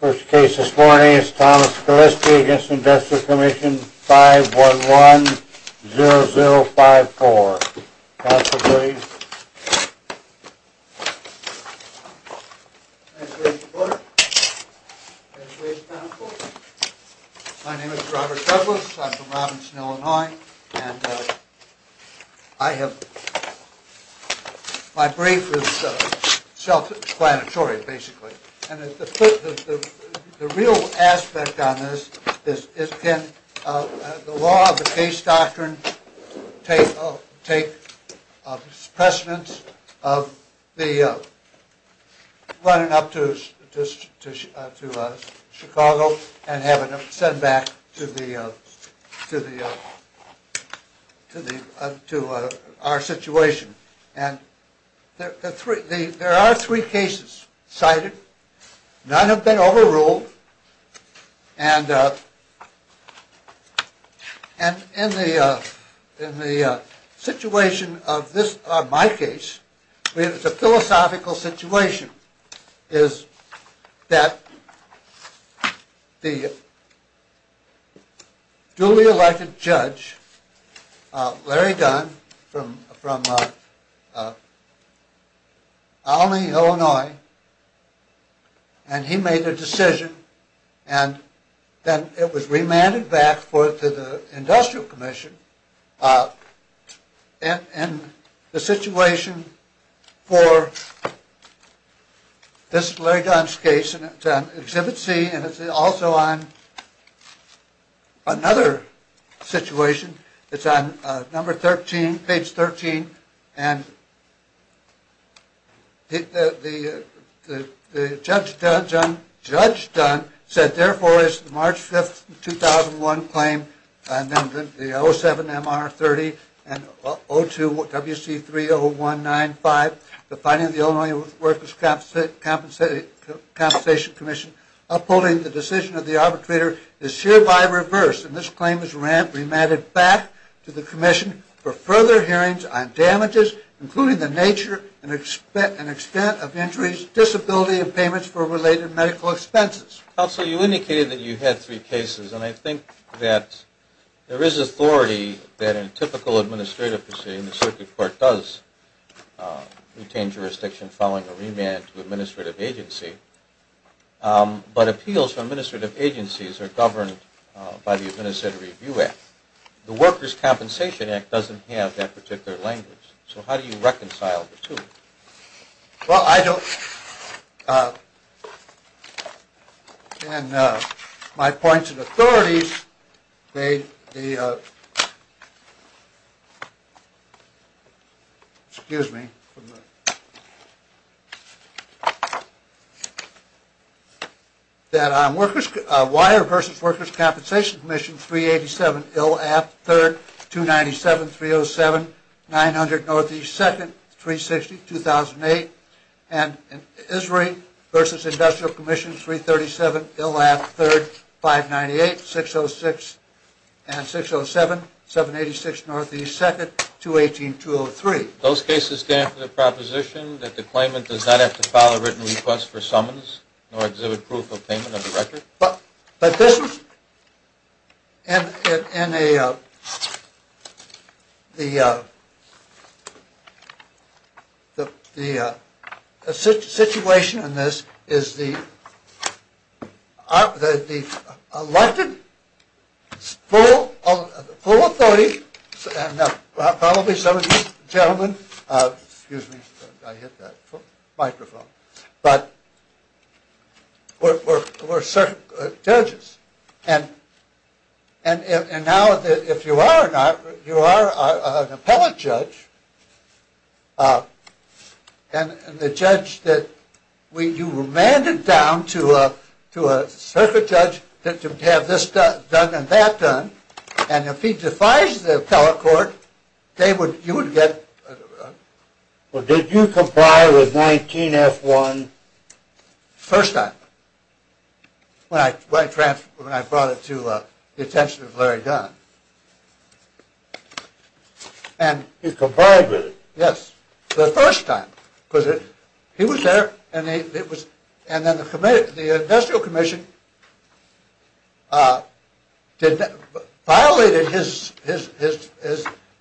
First case this morning is Thomas Gillespie v. Investors' Commission, 511-0054. Counsel, please. Congratulations, Porter. Congratulations, counsel. My name is Robert Douglas. I'm from Robinson, Illinois. And my brief is self-explanatory, basically. And the real aspect on this is can the law of the case doctrine take precedence of the running up to Chicago and have it sent back to our situation. And there are three cases cited. None have been overruled. And in the situation of my case, the philosophical situation, is that the duly elected judge, Larry Dunn, from Alameda, Illinois, and he made a decision and then it was remanded back to the Industrial Commission. And the situation for this Larry Dunn's case, and it's on Exhibit C, and it's also on another situation. It's on number 13, page 13, and the judge Dunn said, Therefore, as of March 5, 2001, claim number 07-MR-30 and 02-WC3-0195, the finding of the Illinois Workers' Compensation Commission, upholding the decision of the arbitrator, is hereby reversed. And this claim is remanded back to the Commission for further hearings on damages, including the nature and extent of injuries, disability, and payments for related medical expenses. Counsel, you indicated that you had three cases. And I think that there is authority that in a typical administrative proceeding, the circuit court does retain jurisdiction following a remand to administrative agency. But appeals from administrative agencies are governed by the Administrative Review Act. The Workers' Compensation Act doesn't have that particular language. So how do you reconcile the two? Well, I don't. In my points of authority, they, the, excuse me. That WIRE versus Workers' Compensation Commission, 387-IL-AP-3RD, 297-307-900-Northeast-2nd, 360-2008. And ISRI versus Industrial Commission, 337-IL-AP-3RD, 598-606-607, 786-Northeast-2nd, 218-203. Those cases stand for the proposition that the claimant does not have to file a written request for summons nor exhibit proof of payment of the record? But this, in a, the situation in this is the elected, full authority, probably some of you gentlemen, excuse me, I hit that microphone, but we're circuit judges. And now if you are or not, you are an appellate judge, and the judge that, you remanded down to a circuit judge to have this done and that done. And if he defies the appellate court, they would, you would get. Well did you comply with 19-F-1? First time. When I brought it to the attention of Larry Dunn. He complied with it? Yes. The first time. Because he was there, and it was, and then the committee, the industrial commission, violated his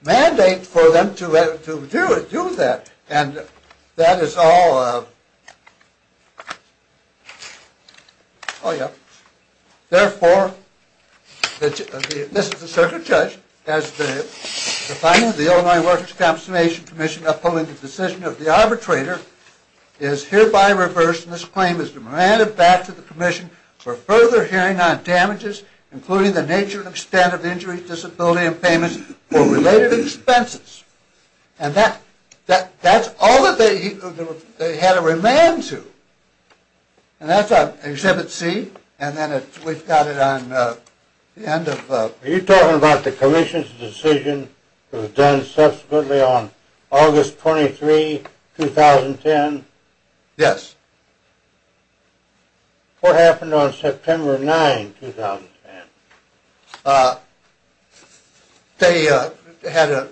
mandate for them to do that. And that is all, oh yeah. Therefore, this is the circuit judge, as the finding of the Illinois Workers' Compensation Commission upholding the decision of the arbitrator, is hereby reversed, and this claim is remanded back to the commission for further hearing on damages, including the nature and extent of injuries, disability, and payments for related expenses. And that, that's all that they had to remand to. And that's on exhibit C, and then we've got it on the end of. Are you talking about the commission's decision that was done subsequently on August 23, 2010? Yes. What happened on September 9, 2010? They had a,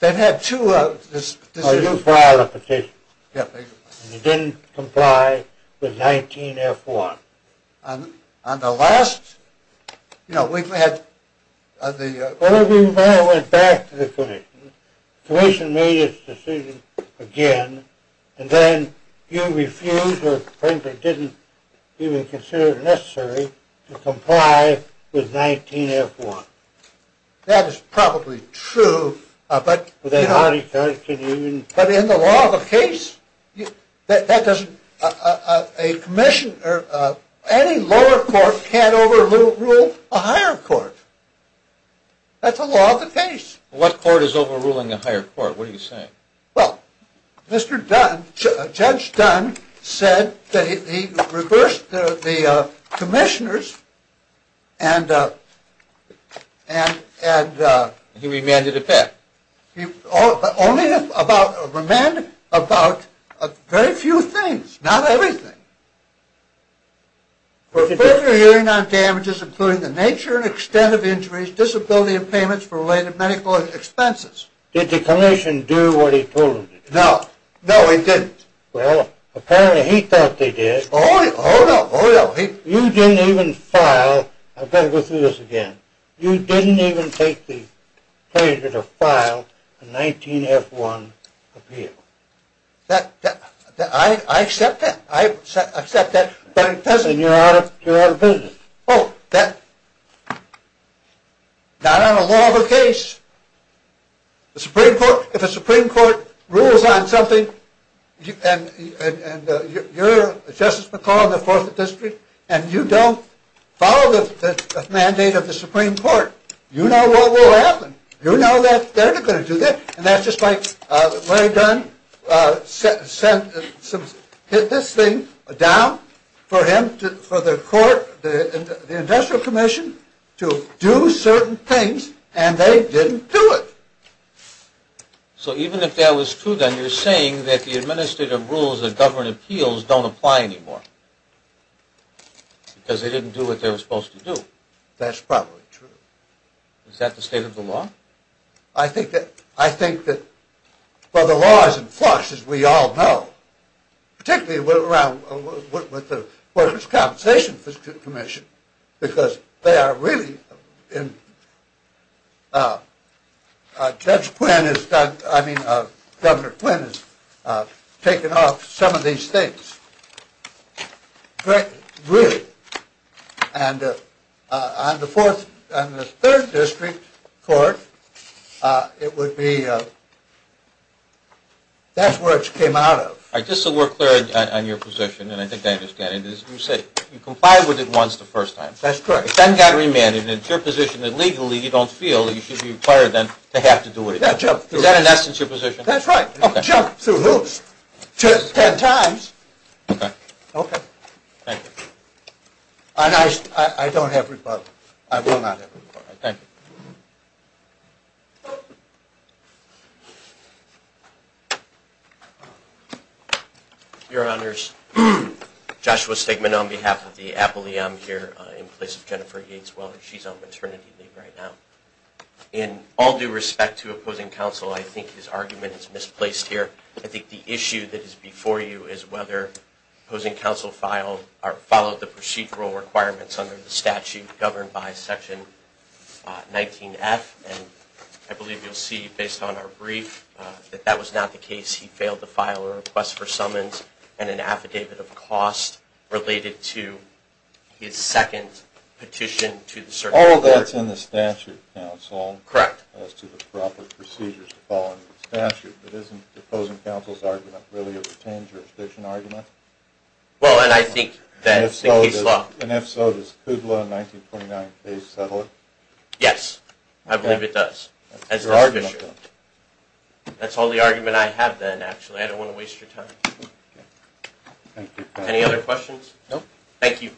they had two of this. Oh, you filed a petition? Yes. And you didn't comply with 19-F-1? On the last, you know, we've had the. Well, we went back to the commission. The commission made its decision again, and then you refused or frankly didn't even consider it necessary to comply with 19-F-1. That is probably true, but. But in the law of the case, that doesn't, a commission or any lower court can't overrule a higher court. That's the law of the case. What court is overruling a higher court? What are you saying? Well, Mr. Dunn, Judge Dunn said that he reversed the commissioners and. He remanded it back? Only about, remanded about very few things, not everything. For further hearing on damages including the nature and extent of injuries, disability and payments for related medical expenses. Did the commission do what he told them to do? No. No, it didn't. Well, apparently he thought they did. Oh, no, oh, no. You didn't even file, I've got to go through this again. You didn't even take the pleasure to file a 19-F-1 appeal. That, I accept that. I accept that. Then you're out of business. Oh, that, not on the law of the case. The Supreme Court, if the Supreme Court rules on something, and you're Justice McCall in the Fourth District, and you don't follow the mandate of the Supreme Court, you know what will happen. You know that they're not going to do that. And that's just like Larry Dunn hit this thing down for him, for the court, the industrial commission to do certain things, and they didn't do it. So even if that was true, then you're saying that the administrative rules and government appeals don't apply anymore because they didn't do what they were supposed to do. That's probably true. Is that the state of the law? I think that, well, the law is in flux, as we all know, particularly with the workers' compensation commission because they are really in, Judge Quinn has done, I mean, Governor Quinn has taken off some of these things. Really. And on the Third District court, it would be, that's where it came out of. All right, just so we're clear on your position, and I think I understand it, you said you complied with it once the first time. That's correct. Then got remanded. It's your position that legally you don't feel that you should be required then to have to do it again. Is that in essence your position? That's right. Jumped through hoops 10 times. Okay. Thank you. And I don't have rebuttal. I will not have rebuttal. All right, thank you. Your Honors, Joshua Stegman on behalf of the Apolleon here in place of Jennifer Yates Wellness. She's on maternity leave right now. In all due respect to opposing counsel, I think his argument is misplaced here. I think the issue that is before you is whether opposing counsel followed the procedural requirements under the statute governed by Section 19F. And I believe you'll see based on our brief that that was not the case. He failed to file a request for summons and an affidavit of cost related to his second petition to the circuit court. All of that's in the statute, counsel. Correct. As to the proper procedures to follow in the statute. But isn't opposing counsel's argument really a retained jurisdiction argument? Well, and I think that's the case law. And if so, does Kudlow in 1929 please settle it? Yes, I believe it does. As does Fisher. That's all the argument I have then, actually. I don't want to waste your time. Thank you. Any other questions? No. Thank you.